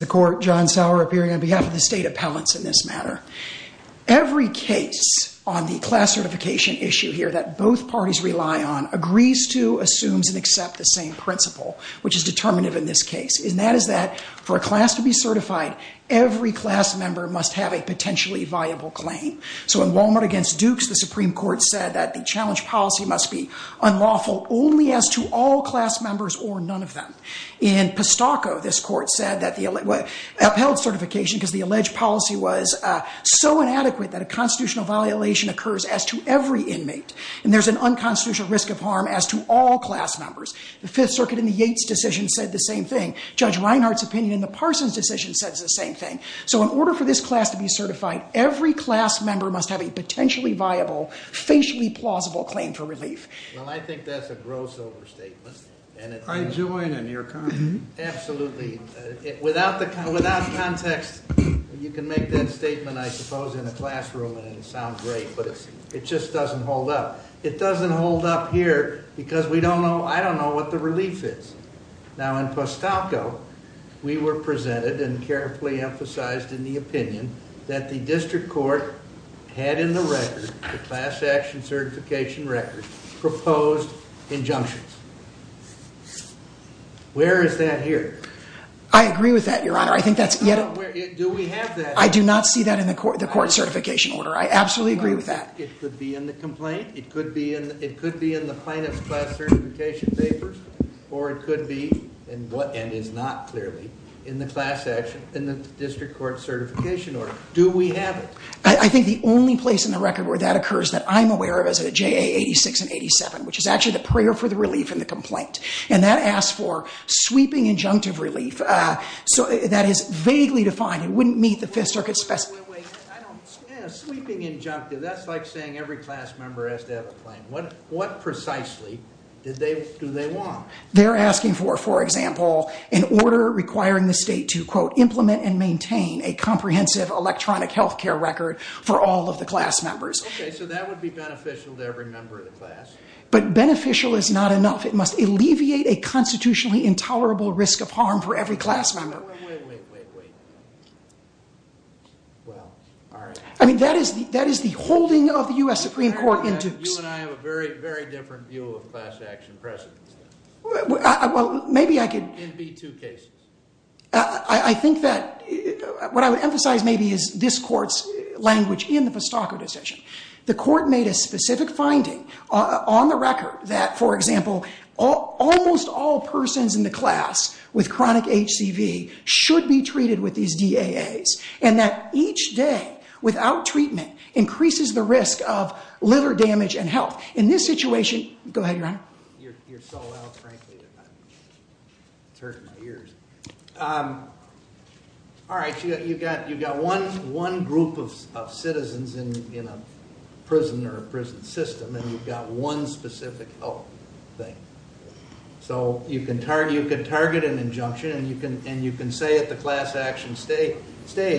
The Court, John Sauer, appearing on behalf of the State Appellants in this matter. Every case on the class certification issue here that both parties rely on agrees to, assumes, and accepts the same principle, which is determinative in this case. And that is that for a class to be certified, every class member must have a potentially viable claim. So in Wal-Mart v. Dukes, the Supreme Court said that the challenge policy must be unlawful only as to all class members or none of them. In Postoco, this Court said, upheld certification because the alleged policy was so inadequate that a constitutional violation occurs as to every inmate. And there's an unconstitutional risk of harm as to all class members. The Fifth Circuit in the Yates decision said the same thing. Judge Reinhardt's opinion in the Parsons decision says the same thing. So in order for this class to be certified, every class member must have a potentially viable, facially plausible claim for relief. Well, I think that's a gross overstatement. I join in your comment. Absolutely. Without context, you can make that statement, I suppose, in a classroom and it would sound great. But it just doesn't hold up. It doesn't hold up here because I don't know what the relief is. Now, in Postoco, we were presented and carefully emphasized in the opinion that the district court had in the record, the class action certification record, proposed injunctions. Where is that here? I agree with that, Your Honor. I think that's... Do we have that? I do not see that in the court certification order. I absolutely agree with that. It could be in the complaint. It could be in the plaintiff's class certification papers. Or it could be, and is not clearly, in the class action, in the district court certification order. Do we have it? I think the only place in the record where that occurs that I'm aware of is at JA 86 and 87, which is actually the prayer for the relief in the complaint. And that asks for sweeping injunctive relief. So that is vaguely defined. It wouldn't meet the Fifth Circuit's specifications. Sweeping injunctive, that's like saying every class member has to have a claim. What precisely do they want? They're asking for, for example, an order requiring the state to, quote, implement and maintain a comprehensive electronic health care record for all of the class members. Okay, so that would be beneficial to every member of the class. But beneficial is not enough. It must alleviate a constitutionally intolerable risk of harm for every class member. Wait, wait, wait, wait, wait. Well, all right. You and I have a very, very different view of class action precedent. Well, maybe I could. In B-2 cases. I think that what I would emphasize maybe is this court's language in the Pestaco decision. The court made a specific finding on the record that, for example, almost all persons in the class with chronic HCV should be treated with these DAAs, and that each day without treatment increases the risk of liver damage and health. In this situation, go ahead, Your Honor. You're so loud, frankly, it's hurting my ears. All right, you've got one group of citizens in a prison or a prison system, and you've got one specific health thing. So you can target an injunction, and you can say at the class action stage,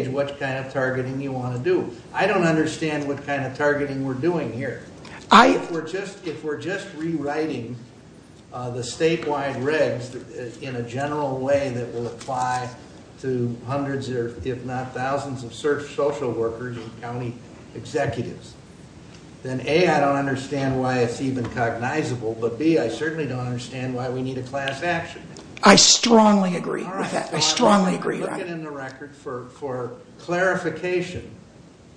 what kind of targeting you want to do. I don't understand what kind of targeting we're doing here. If we're just rewriting the statewide regs in a general way that will apply to hundreds or if not thousands of social workers and county executives, then A, I don't understand why it's even cognizable, but B, I certainly don't understand why we need a class action. I strongly agree with that. I strongly agree, Your Honor. I'm asking in the record for clarification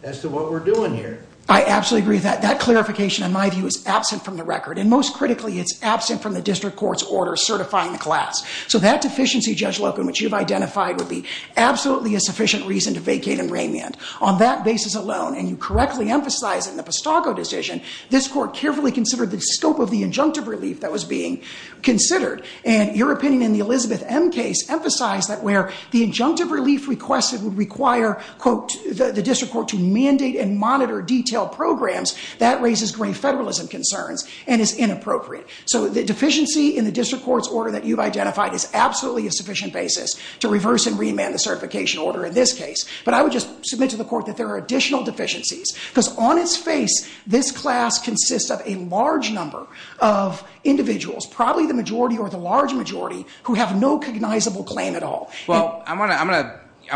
as to what we're doing here. I absolutely agree with that. That clarification, in my view, is absent from the record, and most critically it's absent from the district court's order certifying the class. So that deficiency, Judge Loken, which you've identified, would be absolutely a sufficient reason to vacate and remand. On that basis alone, and you correctly emphasize in the Pistago decision, this court carefully considered the scope of the injunctive relief that was being considered, and your opinion in the Elizabeth M case emphasized that where the injunctive relief requested would require, quote, the district court to mandate and monitor detailed programs, that raises grave federalism concerns and is inappropriate. So the deficiency in the district court's order that you've identified is absolutely a sufficient basis to reverse and remand the certification order in this case, but I would just submit to the court that there are additional deficiencies because on its face this class consists of a large number of individuals, probably the majority or the large majority, who have no cognizable claim at all. Well, I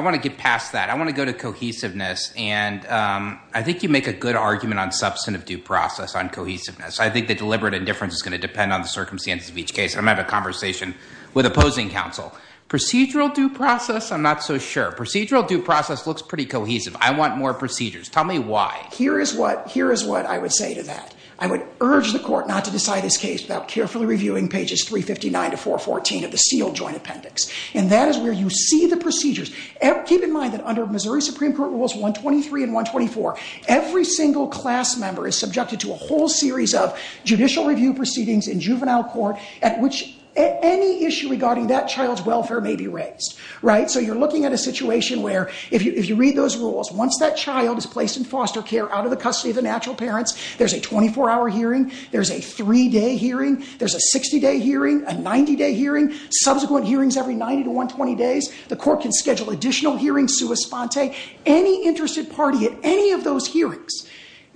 want to get past that. I want to go to cohesiveness, and I think you make a good argument on substantive due process, on cohesiveness. I think the deliberate indifference is going to depend on the circumstances of each case. I'm having a conversation with opposing counsel. Procedural due process, I'm not so sure. Procedural due process looks pretty cohesive. I want more procedures. Tell me why. Here is what I would say to that. I would urge the court not to decide this case without carefully reviewing pages 359 to 414 of the sealed joint appendix, and that is where you see the procedures. Keep in mind that under Missouri Supreme Court Rules 123 and 124, every single class member is subjected to a whole series of judicial review proceedings in juvenile court at which any issue regarding that child's welfare may be raised. So you're looking at a situation where if you read those rules, once that child is placed in foster care out of the custody of the natural parents, there's a 24-hour hearing, there's a three-day hearing, there's a 60-day hearing, a 90-day hearing, subsequent hearings every 90 to 120 days. The court can schedule additional hearings sua sponte. Any interested party at any of those hearings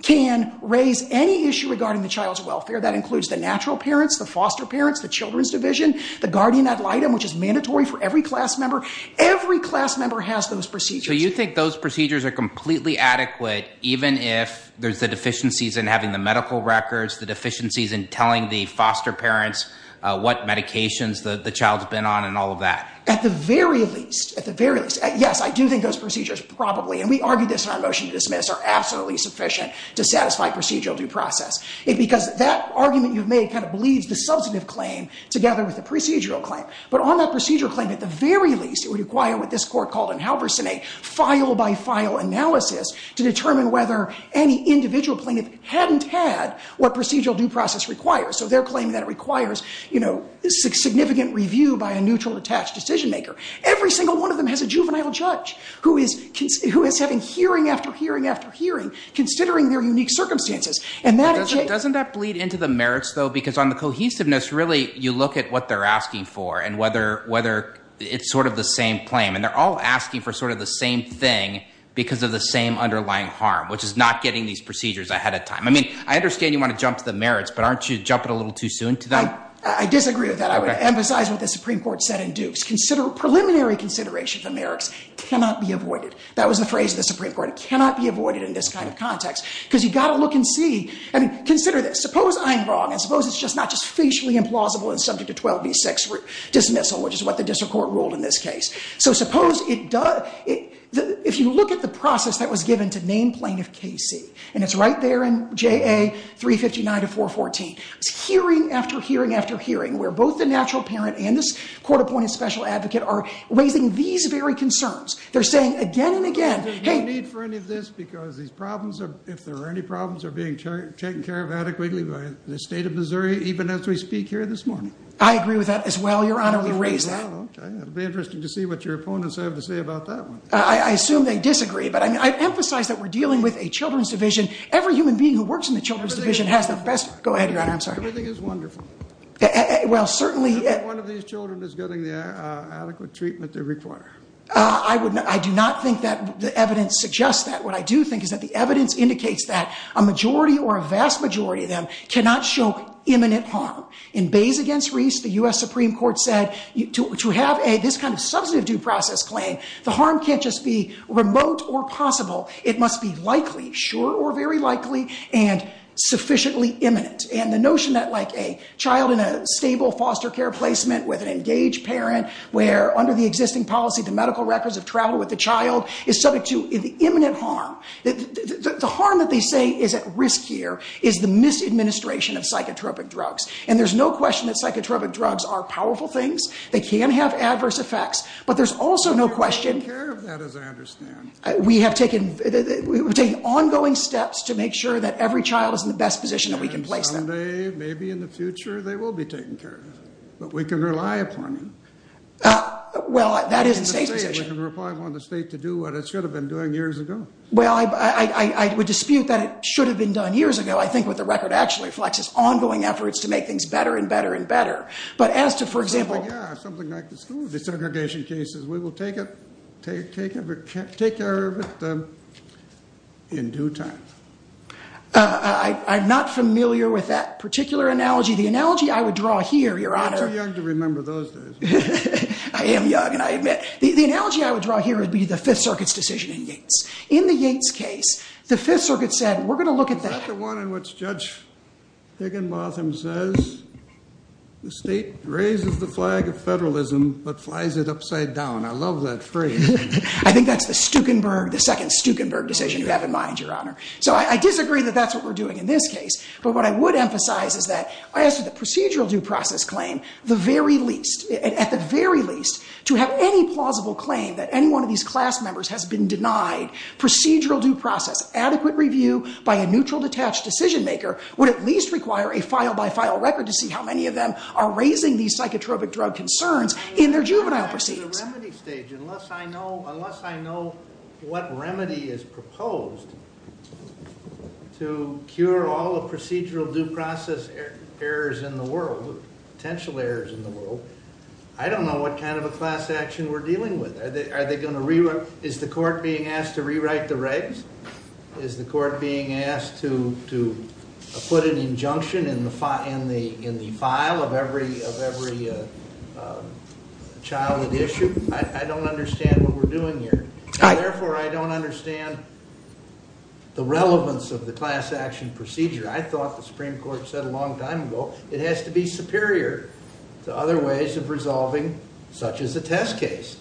can raise any issue regarding the child's welfare. That includes the natural parents, the foster parents, the children's division, the guardian ad litem, which is mandatory for every class member. Every class member has those procedures. So you think those procedures are completely adequate even if there's the deficiencies in having the medical records, the deficiencies in telling the foster parents what medications the child's been on and all of that? At the very least, at the very least. Yes, I do think those procedures probably, and we argued this in our motion to dismiss, are absolutely sufficient to satisfy procedural due process. Because that argument you've made kind of bleeds the substantive claim together with the procedural claim. But on that procedural claim, at the very least, it would require what this court called in Halverson a file-by-file analysis to determine whether any individual plaintiff hadn't had what procedural due process requires. So they're claiming that it requires, you know, significant review by a neutral attached decision maker. Every single one of them has a juvenile judge who is having hearing after hearing after hearing considering their unique circumstances. Doesn't that bleed into the merits, though? Because on the cohesiveness, really, you look at what they're asking for and whether it's sort of the same claim. And they're all asking for sort of the same thing because of the same underlying harm, which is not getting these procedures ahead of time. I mean, I understand you want to jump to the merits, but aren't you jumping a little too soon to them? I disagree with that. I would emphasize what the Supreme Court said in Dukes. Preliminary consideration of the merits cannot be avoided. That was the phrase of the Supreme Court. It cannot be avoided in this kind of context because you've got to look and see. I mean, consider this. Suppose I'm wrong, and suppose it's not just facially implausible and subject to 12B6 dismissal, which is what the district court ruled in this case. So suppose it does—if you look at the process that was given to name plaintiff Casey, and it's right there in JA 359 of 414, it's hearing after hearing after hearing where both the natural parent and this court-appointed special advocate are raising these very concerns. They're saying again and again, hey— There's no need for any of this because these problems, if there are any problems, are being taken care of adequately by the state of Missouri even as we speak here this morning. I agree with that as well, Your Honor. We raised that. Okay. It'll be interesting to see what your opponents have to say about that one. I assume they disagree, but I emphasize that we're dealing with a children's division. Every human being who works in the children's division has the best— Go ahead, Your Honor. I'm sorry. Everything is wonderful. Well, certainly— Every one of these children is getting the adequate treatment they require. I do not think that the evidence suggests that. What I do think is that the evidence indicates that a majority or a vast majority of them cannot show imminent harm. In Bays v. Reese, the U.S. Supreme Court said to have this kind of substantive due process claim, the harm can't just be remote or possible. It must be likely, sure or very likely, and sufficiently imminent. And the notion that a child in a stable foster care placement with an engaged parent where under the existing policy the medical records have traveled with the child is subject to imminent harm. The harm that they say is at risk here is the misadministration of psychotropic drugs. And there's no question that psychotropic drugs are powerful things. They can have adverse effects. But there's also no question— We're taking care of that, as I understand. We have taken ongoing steps to make sure that every child is in the best position that we can place them. And someday, maybe in the future, they will be taken care of. But we can rely upon them. Well, that is the State's position. I can rely upon the State to do what it should have been doing years ago. Well, I would dispute that it should have been done years ago. I think what the record actually reflects is ongoing efforts to make things better and better and better. But as to, for example— Something like the school desegregation cases, we will take care of it in due time. I'm not familiar with that particular analogy. The analogy I would draw here, Your Honor— You're too young to remember those days. I am young, and I admit. The analogy I would draw here would be the Fifth Circuit's decision in Yates. In the Yates case, the Fifth Circuit said, we're going to look at that— Is that the one in which Judge Higginbotham says, the State raises the flag of federalism but flies it upside down? I love that phrase. I think that's the Stukenberg—the second Stukenberg decision you have in mind, Your Honor. So I disagree that that's what we're doing in this case. But what I would emphasize is that, as to the procedural due process claim, at the very least, to have any plausible claim that any one of these class members has been denied procedural due process, adequate review by a neutral, detached decision-maker would at least require a file-by-file record to see how many of them are raising these psychotropic drug concerns in their juvenile proceedings. Unless I know what remedy is proposed to cure all the procedural due process errors in the world, potential errors in the world, I don't know what kind of a class action we're dealing with. Is the court being asked to rewrite the regs? Is the court being asked to put an injunction in the file of every child at issue? I don't understand what we're doing here. Therefore, I don't understand the relevance of the class action procedure. I thought the Supreme Court said a long time ago it has to be superior to other ways of resolving such as a test case.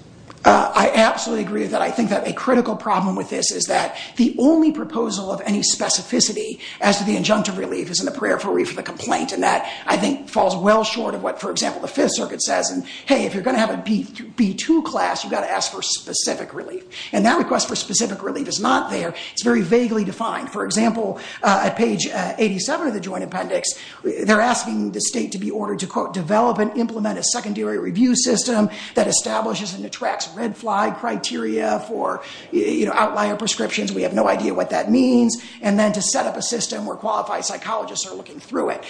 I absolutely agree that I think that a critical problem with this is that the only proposal of any specificity as to the injunctive relief is in the periphery for the complaint, and that, I think, falls well short of what, for example, the Fifth Circuit says, and, hey, if you're going to have a B2 class, you've got to ask for specific relief. And that request for specific relief is not there. It's very vaguely defined. For example, at page 87 of the Joint Appendix, they're asking the state to be ordered to, quote, that establishes and attracts red flag criteria for outlier prescriptions. We have no idea what that means. And then to set up a system where qualified psychologists are looking through it.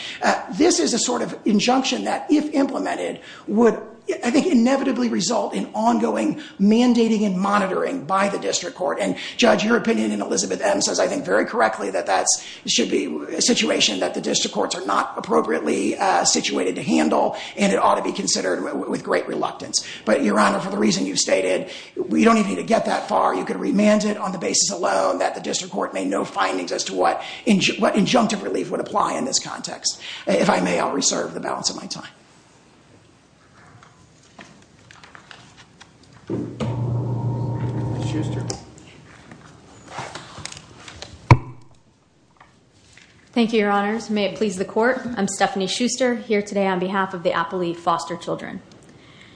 This is a sort of injunction that, if implemented, would, I think, inevitably result in ongoing mandating and monitoring by the district court. And, Judge, your opinion in Elizabeth M. says, I think, very correctly, that that should be a situation that the district courts are not appropriately situated to handle, and it ought to be considered with great reluctance. But, Your Honor, for the reason you've stated, we don't even need to get that far. You can remand it on the basis alone that the district court may know findings as to what injunctive relief would apply in this context. If I may, I'll reserve the balance of my time. Thank you, Your Honors. May it please the Court. I'm Stephanie Schuster, here today on behalf of the Apley Foster Children.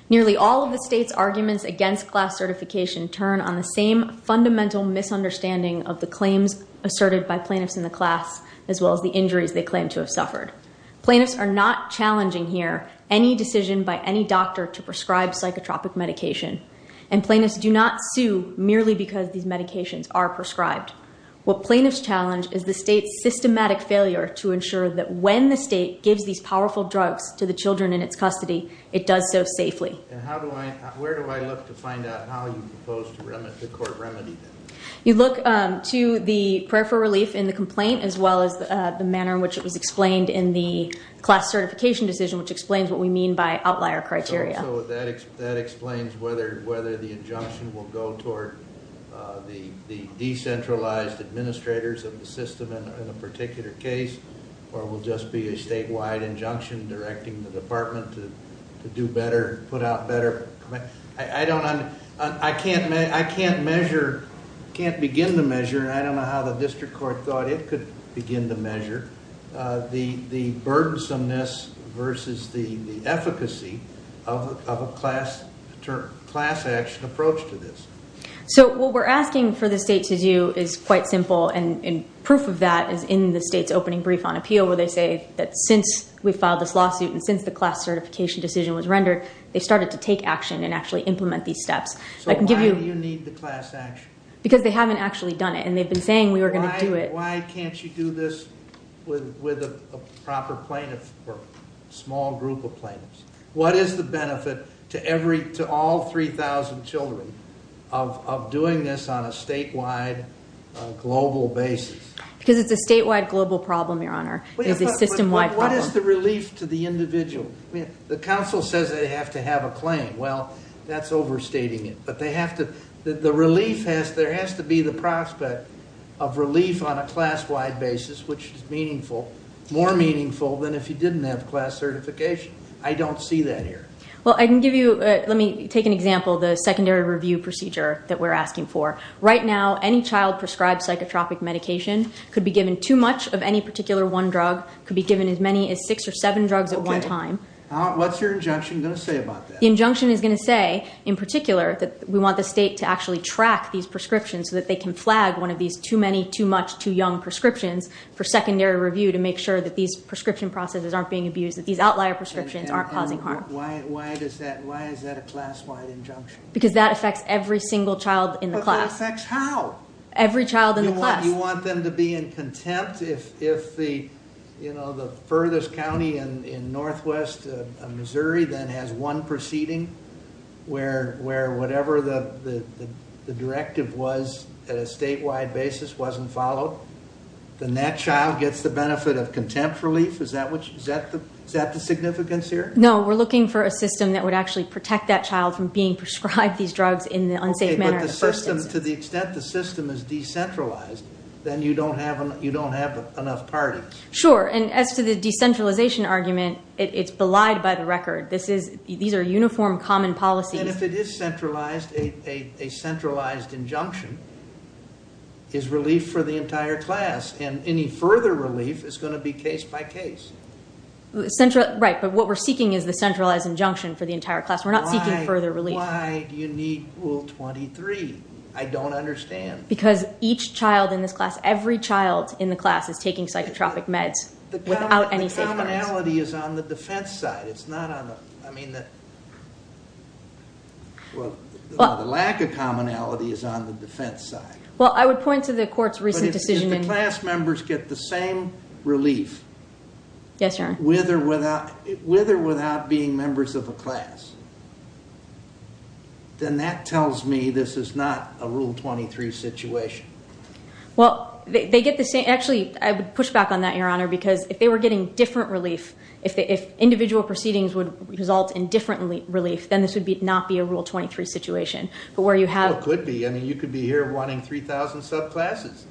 Nearly all of the state's arguments against class certification turn on the same fundamental misunderstanding of the claims asserted by plaintiffs in the class, as well as the injuries they claim to have suffered. Plaintiffs are not challenging here any decision by any doctor to prescribe psychotropic medication. And plaintiffs do not sue merely because these medications are prescribed. What plaintiffs challenge is the state's systematic failure to ensure that when the state gives these powerful drugs to the children in its custody, it does so safely. You look to the prayer for relief in the complaint, as well as the manner in which it was explained in the class certification decision, which explains what we mean by outlier criteria. Administrators of the system in a particular case, or it will just be a statewide injunction directing the department to do better, put out better. I can't measure, can't begin to measure, and I don't know how the district court thought it could begin to measure, the burdensomeness versus the efficacy of a class action approach to this. So what we're asking for the state to do is quite simple, and proof of that is in the state's opening brief on appeal, where they say that since we filed this lawsuit, and since the class certification decision was rendered, they started to take action and actually implement these steps. So why do you need the class action? Because they haven't actually done it, and they've been saying we were going to do it. Why can't you do this with a proper plaintiff, or a small group of plaintiffs? What is the benefit to all 3,000 children of doing this on a statewide, global basis? Because it's a statewide, global problem, Your Honor. It is a system-wide problem. What is the relief to the individual? The council says they have to have a claim. Well, that's overstating it, but they have to, the relief has, there has to be the prospect of relief on a class-wide basis, which is meaningful, more meaningful than if you didn't have class certification. I don't see that here. Well, I can give you, let me take an example of the secondary review procedure that we're asking for. Right now, any child prescribed psychotropic medication could be given too much of any particular one drug, could be given as many as six or seven drugs at one time. What's your injunction going to say about that? The injunction is going to say, in particular, that we want the state to actually track these prescriptions so that they can flag one of these too many, too much, too young prescriptions for secondary review to make sure that these prescription processes aren't being abused, that these outlier prescriptions aren't causing harm. And why is that a class-wide injunction? Because that affects every single child in the class. But it affects how? Every child in the class. You want them to be in contempt if the furthest county in northwest Missouri then has one proceeding where whatever the directive was at a statewide basis wasn't followed? Then that child gets the benefit of contempt relief? Is that the significance here? No, we're looking for a system that would actually protect that child from being prescribed these drugs in an unsafe manner. Okay, but the system, to the extent the system is decentralized, then you don't have enough parties. Sure, and as to the decentralization argument, it's belied by the record. These are uniform, common policies. And if it is centralized, a centralized injunction is relief for the entire class, and any further relief is going to be case by case. Right, but what we're seeking is the centralized injunction for the entire class. We're not seeking further relief. Why do you need Rule 23? I don't understand. Because each child in this class, every child in the class is taking psychotropic meds without any safeguards. The commonality is on the defense side. It's not on the, I mean, the lack of commonality is on the defense side. Well, I would point to the court's recent decision in But if the class members get the same relief with or without being members of a class, then that tells me this is not a Rule 23 situation. Well, they get the same, actually, I would push back on that, Your Honor, because if they were getting different relief, if individual proceedings would result in different relief, then this would not be a Rule 23 situation. Well, it could be. I mean, you could be here wanting 3,000 subclasses.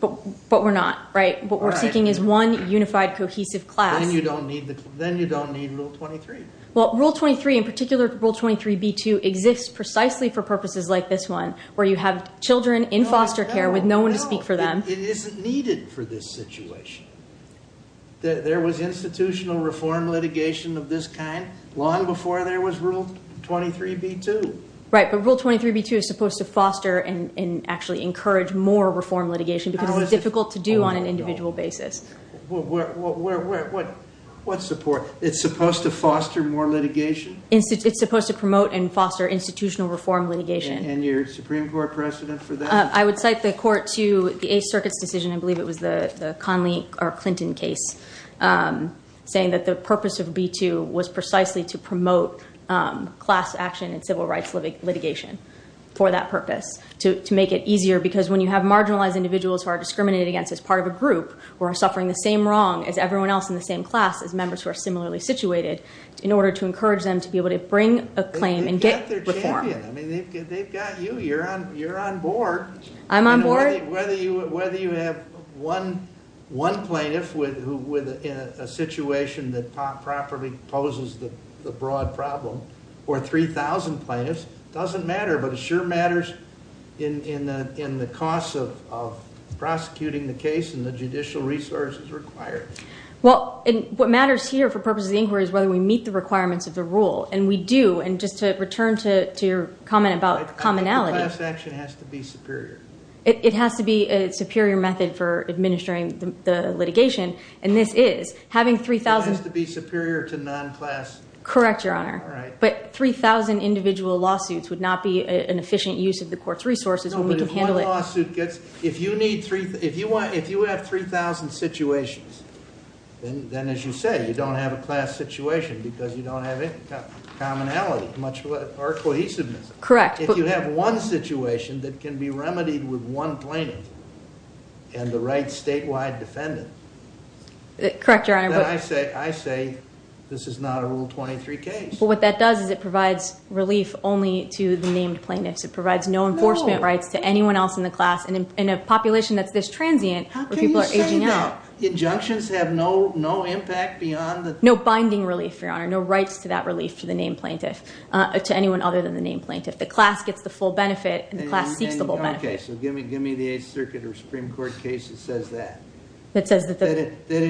But we're not, right? What we're seeking is one unified, cohesive class. Then you don't need Rule 23. Well, Rule 23, in particular Rule 23b-2, exists precisely for purposes like this one, where you have children in foster care with no one to speak for them. No, it isn't needed for this situation. There was institutional reform litigation of this kind long before there was Rule 23b-2. Right, but Rule 23b-2 is supposed to foster and actually encourage more reform litigation because it's difficult to do on an individual basis. What support? It's supposed to foster more litigation? It's supposed to promote and foster institutional reform litigation. And your Supreme Court precedent for that? I would cite the court to the Eighth Circuit's decision, I believe it was the Clinton case, saying that the purpose of b-2 was precisely to promote class action and civil rights litigation for that purpose, to make it easier because when you have marginalized individuals who are discriminated against as part of a group or are suffering the same wrong as everyone else in the same class as members who are similarly situated, in order to encourage them to be able to bring a claim and get reform. I mean, they've got you. You're on board. I'm on board? Whether you have one plaintiff in a situation that properly poses the broad problem or 3,000 plaintiffs doesn't matter, but it sure matters in the cost of prosecuting the case and the judicial resources required. Well, what matters here for purposes of the inquiry is whether we meet the requirements of the rule, and we do. And just to return to your comment about commonality. Class action has to be superior. It has to be a superior method for administering the litigation, and this is. It has to be superior to non-class. Correct, Your Honor. All right. But 3,000 individual lawsuits would not be an efficient use of the court's resources when we can handle it. No, but if one lawsuit gets, if you have 3,000 situations, then as you say, you don't have a class situation because you don't have commonality or cohesiveness. Correct. If you have one situation that can be remedied with one plaintiff and the right statewide defendant. Correct, Your Honor. Then I say this is not a Rule 23 case. Well, what that does is it provides relief only to the named plaintiffs. It provides no enforcement rights to anyone else in the class in a population that's this transient where people are aging out. Injunctions have no impact beyond the- No binding relief, Your Honor. No rights to that relief to the named plaintiff, to anyone other than the named plaintiff. The class gets the full benefit and the class seeks the full benefit. Okay, so give me the Eighth Circuit or Supreme Court case that says that. That says that- That the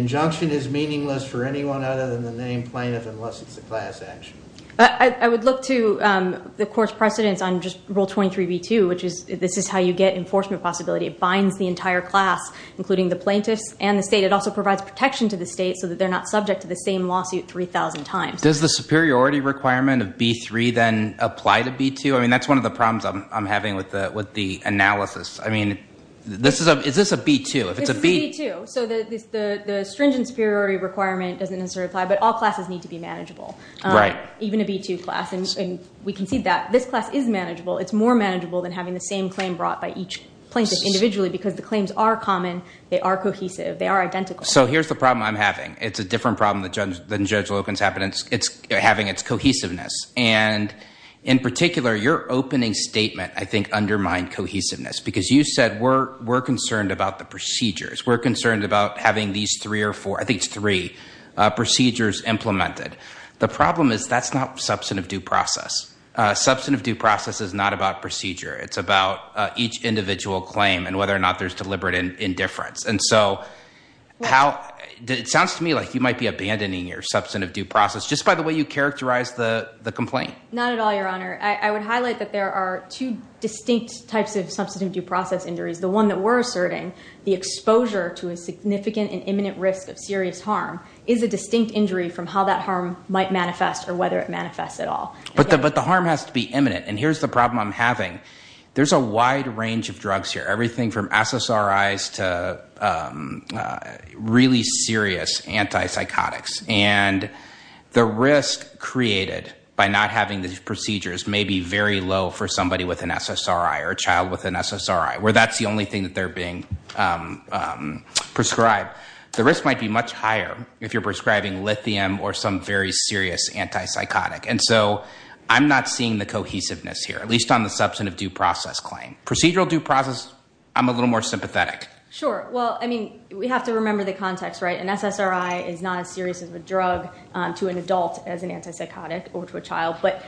injunction is meaningless for anyone other than the named plaintiff unless it's a class action. I would look to the court's precedence on just Rule 23b2, which is this is how you get enforcement possibility. It binds the entire class, including the plaintiffs and the state. It also provides protection to the state so that they're not subject to the same lawsuit 3,000 times. Does the superiority requirement of b3 then apply to b2? I mean, that's one of the problems I'm having with the analysis. I mean, is this a b2? This is a b2, so the stringent superiority requirement doesn't necessarily apply, but all classes need to be manageable. Right. Even a b2 class, and we can see that. This class is manageable. It's more manageable than having the same claim brought by each plaintiff individually because the claims are common. They are cohesive. They are identical. So here's the problem I'm having. It's a different problem than Judge Loken's having. It's having its cohesiveness, and in particular, your opening statement, I think, undermined cohesiveness because you said we're concerned about the procedures. We're concerned about having these three or four, I think it's three, procedures implemented. The problem is that's not substantive due process. Substantive due process is not about procedure. It's about each individual claim and whether or not there's deliberate indifference. And so it sounds to me like you might be abandoning your substantive due process just by the way you characterize the complaint. Not at all, Your Honor. I would highlight that there are two distinct types of substantive due process injuries. The one that we're asserting, the exposure to a significant and imminent risk of serious harm, is a distinct injury from how that harm might manifest or whether it manifests at all. But the harm has to be imminent, and here's the problem I'm having. There's a wide range of drugs here, everything from SSRIs to really serious antipsychotics, and the risk created by not having these procedures may be very low for somebody with an SSRI or a child with an SSRI, where that's the only thing that they're being prescribed. The risk might be much higher if you're prescribing lithium or some very serious antipsychotic. And so I'm not seeing the cohesiveness here, at least on the substantive due process claim. Procedural due process, I'm a little more sympathetic. Sure. Well, I mean, we have to remember the context, right? An SSRI is not as serious as a drug to an adult as an antipsychotic or to a child. But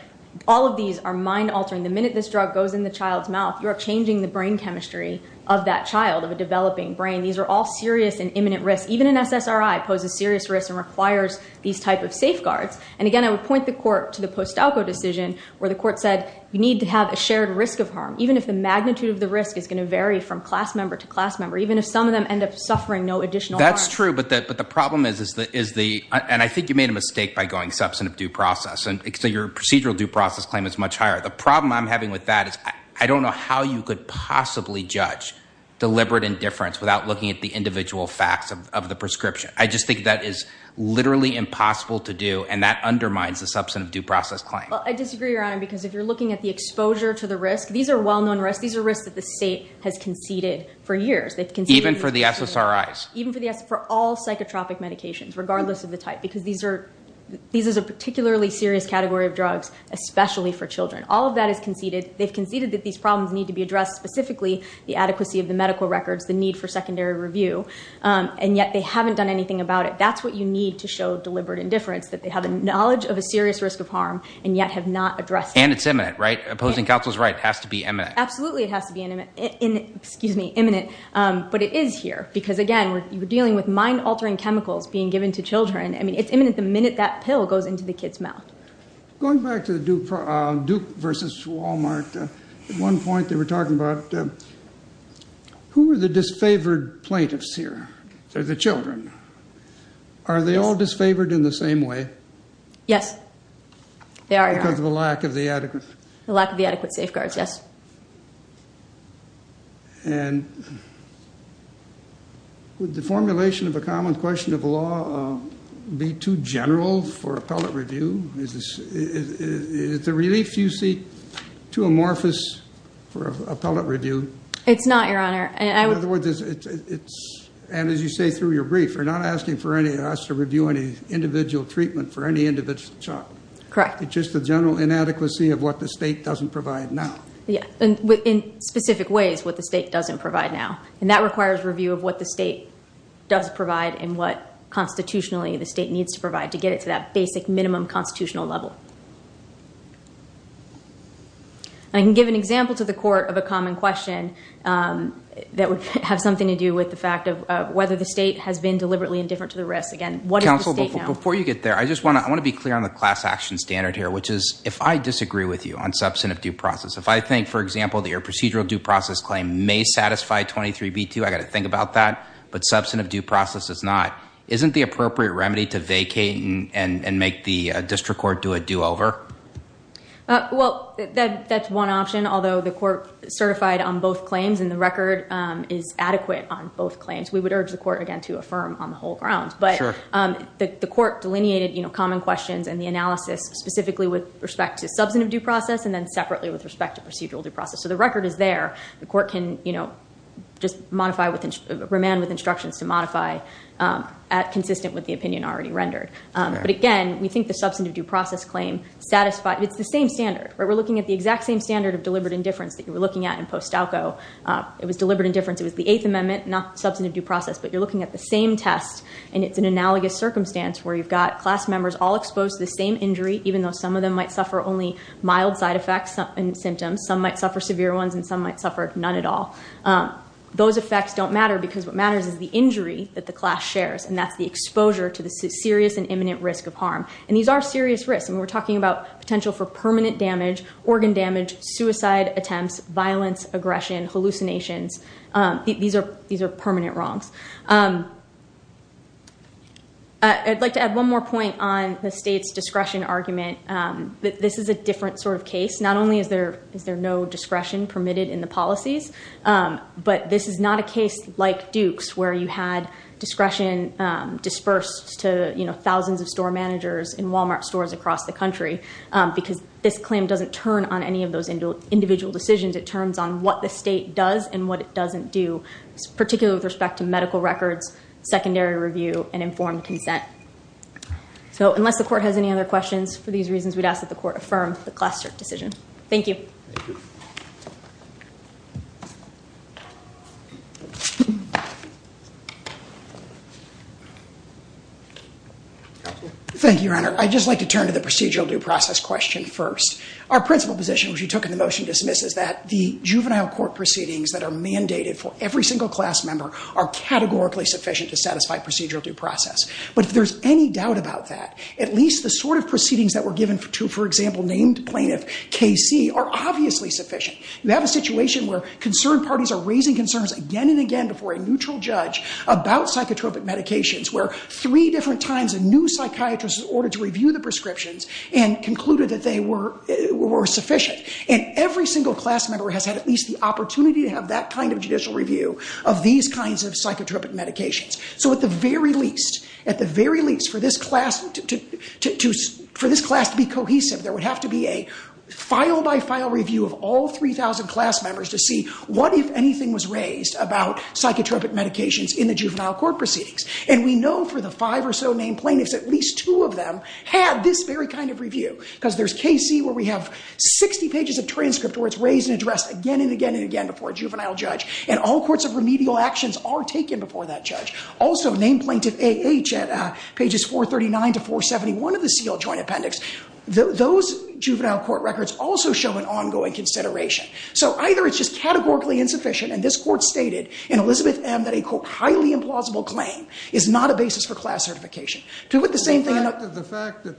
all of these are mind-altering. The minute this drug goes in the child's mouth, you are changing the brain chemistry of that child, of a developing brain. These are all serious and imminent risks. Even an SSRI poses serious risks and requires these type of safeguards. And, again, I would point the court to the Postalco decision where the court said you need to have a shared risk of harm, even if the magnitude of the risk is going to vary from class member to class member, even if some of them end up suffering no additional harm. That's true, but the problem is, and I think you made a mistake by going substantive due process. So your procedural due process claim is much higher. The problem I'm having with that is I don't know how you could possibly judge deliberate indifference without looking at the individual facts of the prescription. I just think that is literally impossible to do, and that undermines the substantive due process claim. Well, I disagree, Your Honor, because if you're looking at the exposure to the risk, these are well-known risks. These are risks that the state has conceded for years. Even for the SSRIs? Even for all psychotropic medications, regardless of the type, because these are a particularly serious category of drugs, especially for children. All of that is conceded. They've conceded that these problems need to be addressed, specifically the adequacy of the medical records, the need for secondary review, and yet they haven't done anything about it. That's what you need to show deliberate indifference, that they have a knowledge of a serious risk of harm and yet have not addressed it. And it's imminent, right? Opposing counsel is right. It has to be imminent. Absolutely it has to be imminent, but it is here. Because, again, we're dealing with mind-altering chemicals being given to children. I mean, it's imminent the minute that pill goes into the kid's mouth. Going back to Duke v. Wal-Mart, at one point they were talking about who are the disfavored plaintiffs here? They're the children. Are they all disfavored in the same way? Yes, they are, Your Honor. Because of the lack of the adequate? The lack of the adequate safeguards, yes. And would the formulation of a common question of law be too general for appellate review? Is the relief you see too amorphous for appellate review? It's not, Your Honor. In other words, and as you say through your brief, you're not asking for us to review any individual treatment for any individual child. Correct. It's just the general inadequacy of what the state doesn't provide now. In specific ways, what the state doesn't provide now. And that requires review of what the state does provide and what constitutionally the state needs to provide to get it to that basic minimum constitutional level. I can give an example to the Court of a common question that would have something to do with the fact of whether the state has been deliberately indifferent to the risks. Again, what is the state now? Counsel, before you get there, I just want to be clear on the class action standard here, which is if I disagree with you on substantive due process, if I think, for example, that your procedural due process claim may satisfy 23b2, I've got to think about that, but substantive due process does not, isn't the appropriate remedy to vacate and make the district court do a do-over? Well, that's one option, although the court certified on both claims and the record is adequate on both claims. We would urge the court, again, to affirm on the whole grounds. But the court delineated common questions and the analysis specifically with respect to substantive due process and then separately with respect to procedural due process. So the record is there. The court can just remand with instructions to modify consistent with the opinion already rendered. But again, we think the substantive due process claim satisfies. It's the same standard. We're looking at the exact same standard of deliberate indifference that you were looking at in Postalco. It was deliberate indifference. It was the Eighth Amendment, not substantive due process. But you're looking at the same test, and it's an analogous circumstance where you've got class members all exposed to the same injury, even though some of them might suffer only mild side effects and symptoms, some might suffer severe ones, and some might suffer none at all. Those effects don't matter because what matters is the injury that the class shares, and that's the exposure to the serious and imminent risk of harm. And these are serious risks, and we're talking about potential for permanent damage, organ damage, suicide attempts, violence, aggression, hallucinations. These are permanent wrongs. I'd like to add one more point on the state's discretion argument. This is a different sort of case. Not only is there no discretion permitted in the policies, but this is not a case like Duke's where you had discretion dispersed to, you know, thousands of store managers in Walmart stores across the country because this claim doesn't turn on any of those individual decisions. It turns on what the state does and what it doesn't do, particularly with respect to medical records, secondary review, and informed consent. So unless the court has any other questions, for these reasons we'd ask that the court affirm the class cert decision. Thank you. Thank you, Your Honor. I'd just like to turn to the procedural due process question first. Our principal position, which you took in the motion to dismiss, is that the juvenile court proceedings that are mandated for every single class member are categorically sufficient to satisfy procedural due process. But if there's any doubt about that, at least the sort of proceedings that were given to, for example, named plaintiff KC, are obviously sufficient. You have a situation where concerned parties are raising concerns again and again before a neutral judge about psychotropic medications, where three different times a new psychiatrist was ordered to review the prescriptions and concluded that they were sufficient. And every single class member has had at least the opportunity to have that kind of judicial review of these kinds of psychotropic medications. So at the very least, for this class to be cohesive, there would have to be a file-by-file review of all 3,000 class members to see what, if anything, was raised about psychotropic medications in the juvenile court proceedings. And we know for the five or so named plaintiffs, at least two of them had this very kind of review. Because there's KC, where we have 60 pages of transcript where it's raised and addressed again and again and again before a juvenile judge. And all courts of remedial actions are taken before that judge. Also, named plaintiff AH at pages 439 to 471 of the seal joint appendix, those juvenile court records also show an ongoing consideration. So either it's just categorically insufficient, and this Court stated in Elizabeth M. that a, quote, highly implausible claim is not a basis for class certification. The fact that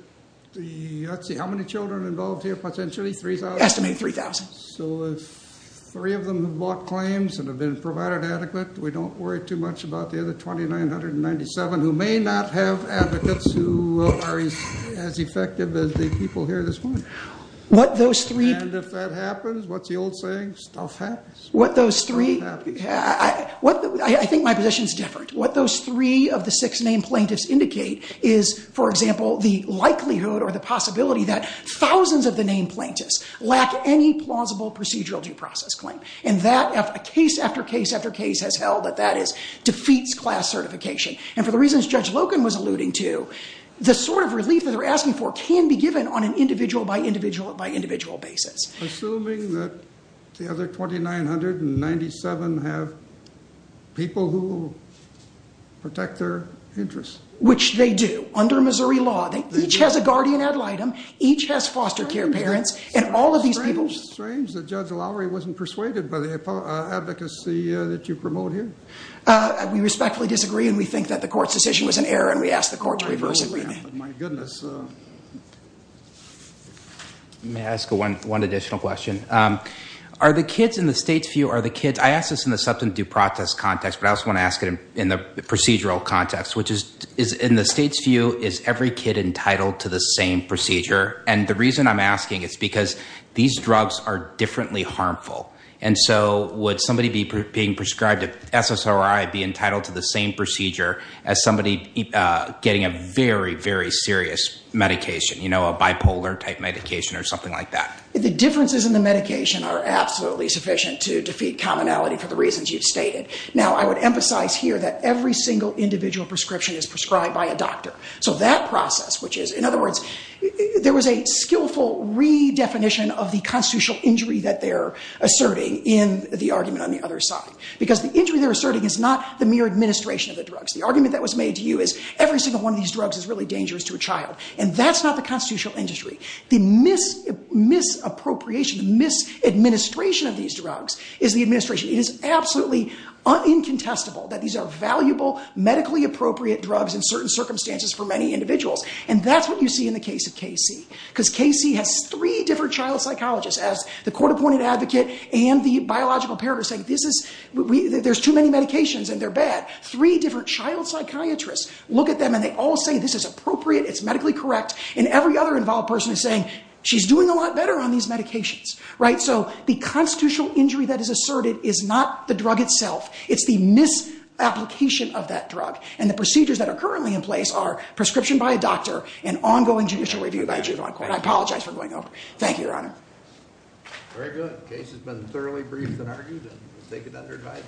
the, let's see, how many children involved here, potentially 3,000? Estimated 3,000. So if three of them have brought claims and have been provided adequate, we don't worry too much about the other 2,997 who may not have advocates who are as effective as the people here this morning. And if that happens, what's the old saying? Stuff happens. What those three, I think my position's different. What those three of the six named plaintiffs indicate is, for example, the likelihood or the possibility that thousands of the named plaintiffs lack any plausible procedural due process claim. And that case after case after case has held that that defeats class certification. And for the reasons Judge Logan was alluding to, the sort of relief that they're asking for can be given on an individual by individual basis. Assuming that the other 2,997 have people who protect their interests. Which they do under Missouri law. They each has a guardian ad litem. Each has foster care parents. And all of these people. It's strange that Judge Lowry wasn't persuaded by the advocacy that you promote here. We respectfully disagree and we think that the court's decision was an error and we ask the court to reverse it. My goodness. May I ask one additional question? Are the kids in the state's view, are the kids, I ask this in the substance due process context, but I also want to ask it in the procedural context. Which is, in the state's view, is every kid entitled to the same procedure? And the reason I'm asking is because these drugs are differently harmful. And so would somebody being prescribed SSRI be entitled to the same procedure as somebody getting a very, very serious medication? You know, a bipolar type medication or something like that? The differences in the medication are absolutely sufficient to defeat commonality for the reasons you've stated. Now, I would emphasize here that every single individual prescription is prescribed by a doctor. So that process, which is, in other words, there was a skillful redefinition of the constitutional injury that they're asserting in the argument on the other side. Because the injury they're asserting is not the mere administration of the drugs. The argument that was made to you is every single one of these drugs is really dangerous to a child. And that's not the constitutional industry. The misappropriation, the misadministration of these drugs is the administration. It is absolutely incontestable that these are valuable, medically appropriate drugs in certain circumstances for many individuals. And that's what you see in the case of KC. Because KC has three different child psychologists, as the court-appointed advocate and the biological parent are saying, there's too many medications and they're bad. Three different child psychiatrists look at them and they all say, this is appropriate, it's medically correct. And every other involved person is saying, she's doing a lot better on these medications. So the constitutional injury that is asserted is not the drug itself. It's the misapplication of that drug. And the procedures that are currently in place are prescription by a doctor and ongoing judicial review by a juvenile court. I apologize for going over. Thank you, Your Honor. Very good. The case has been thoroughly briefed and argued. We'll take it under advice.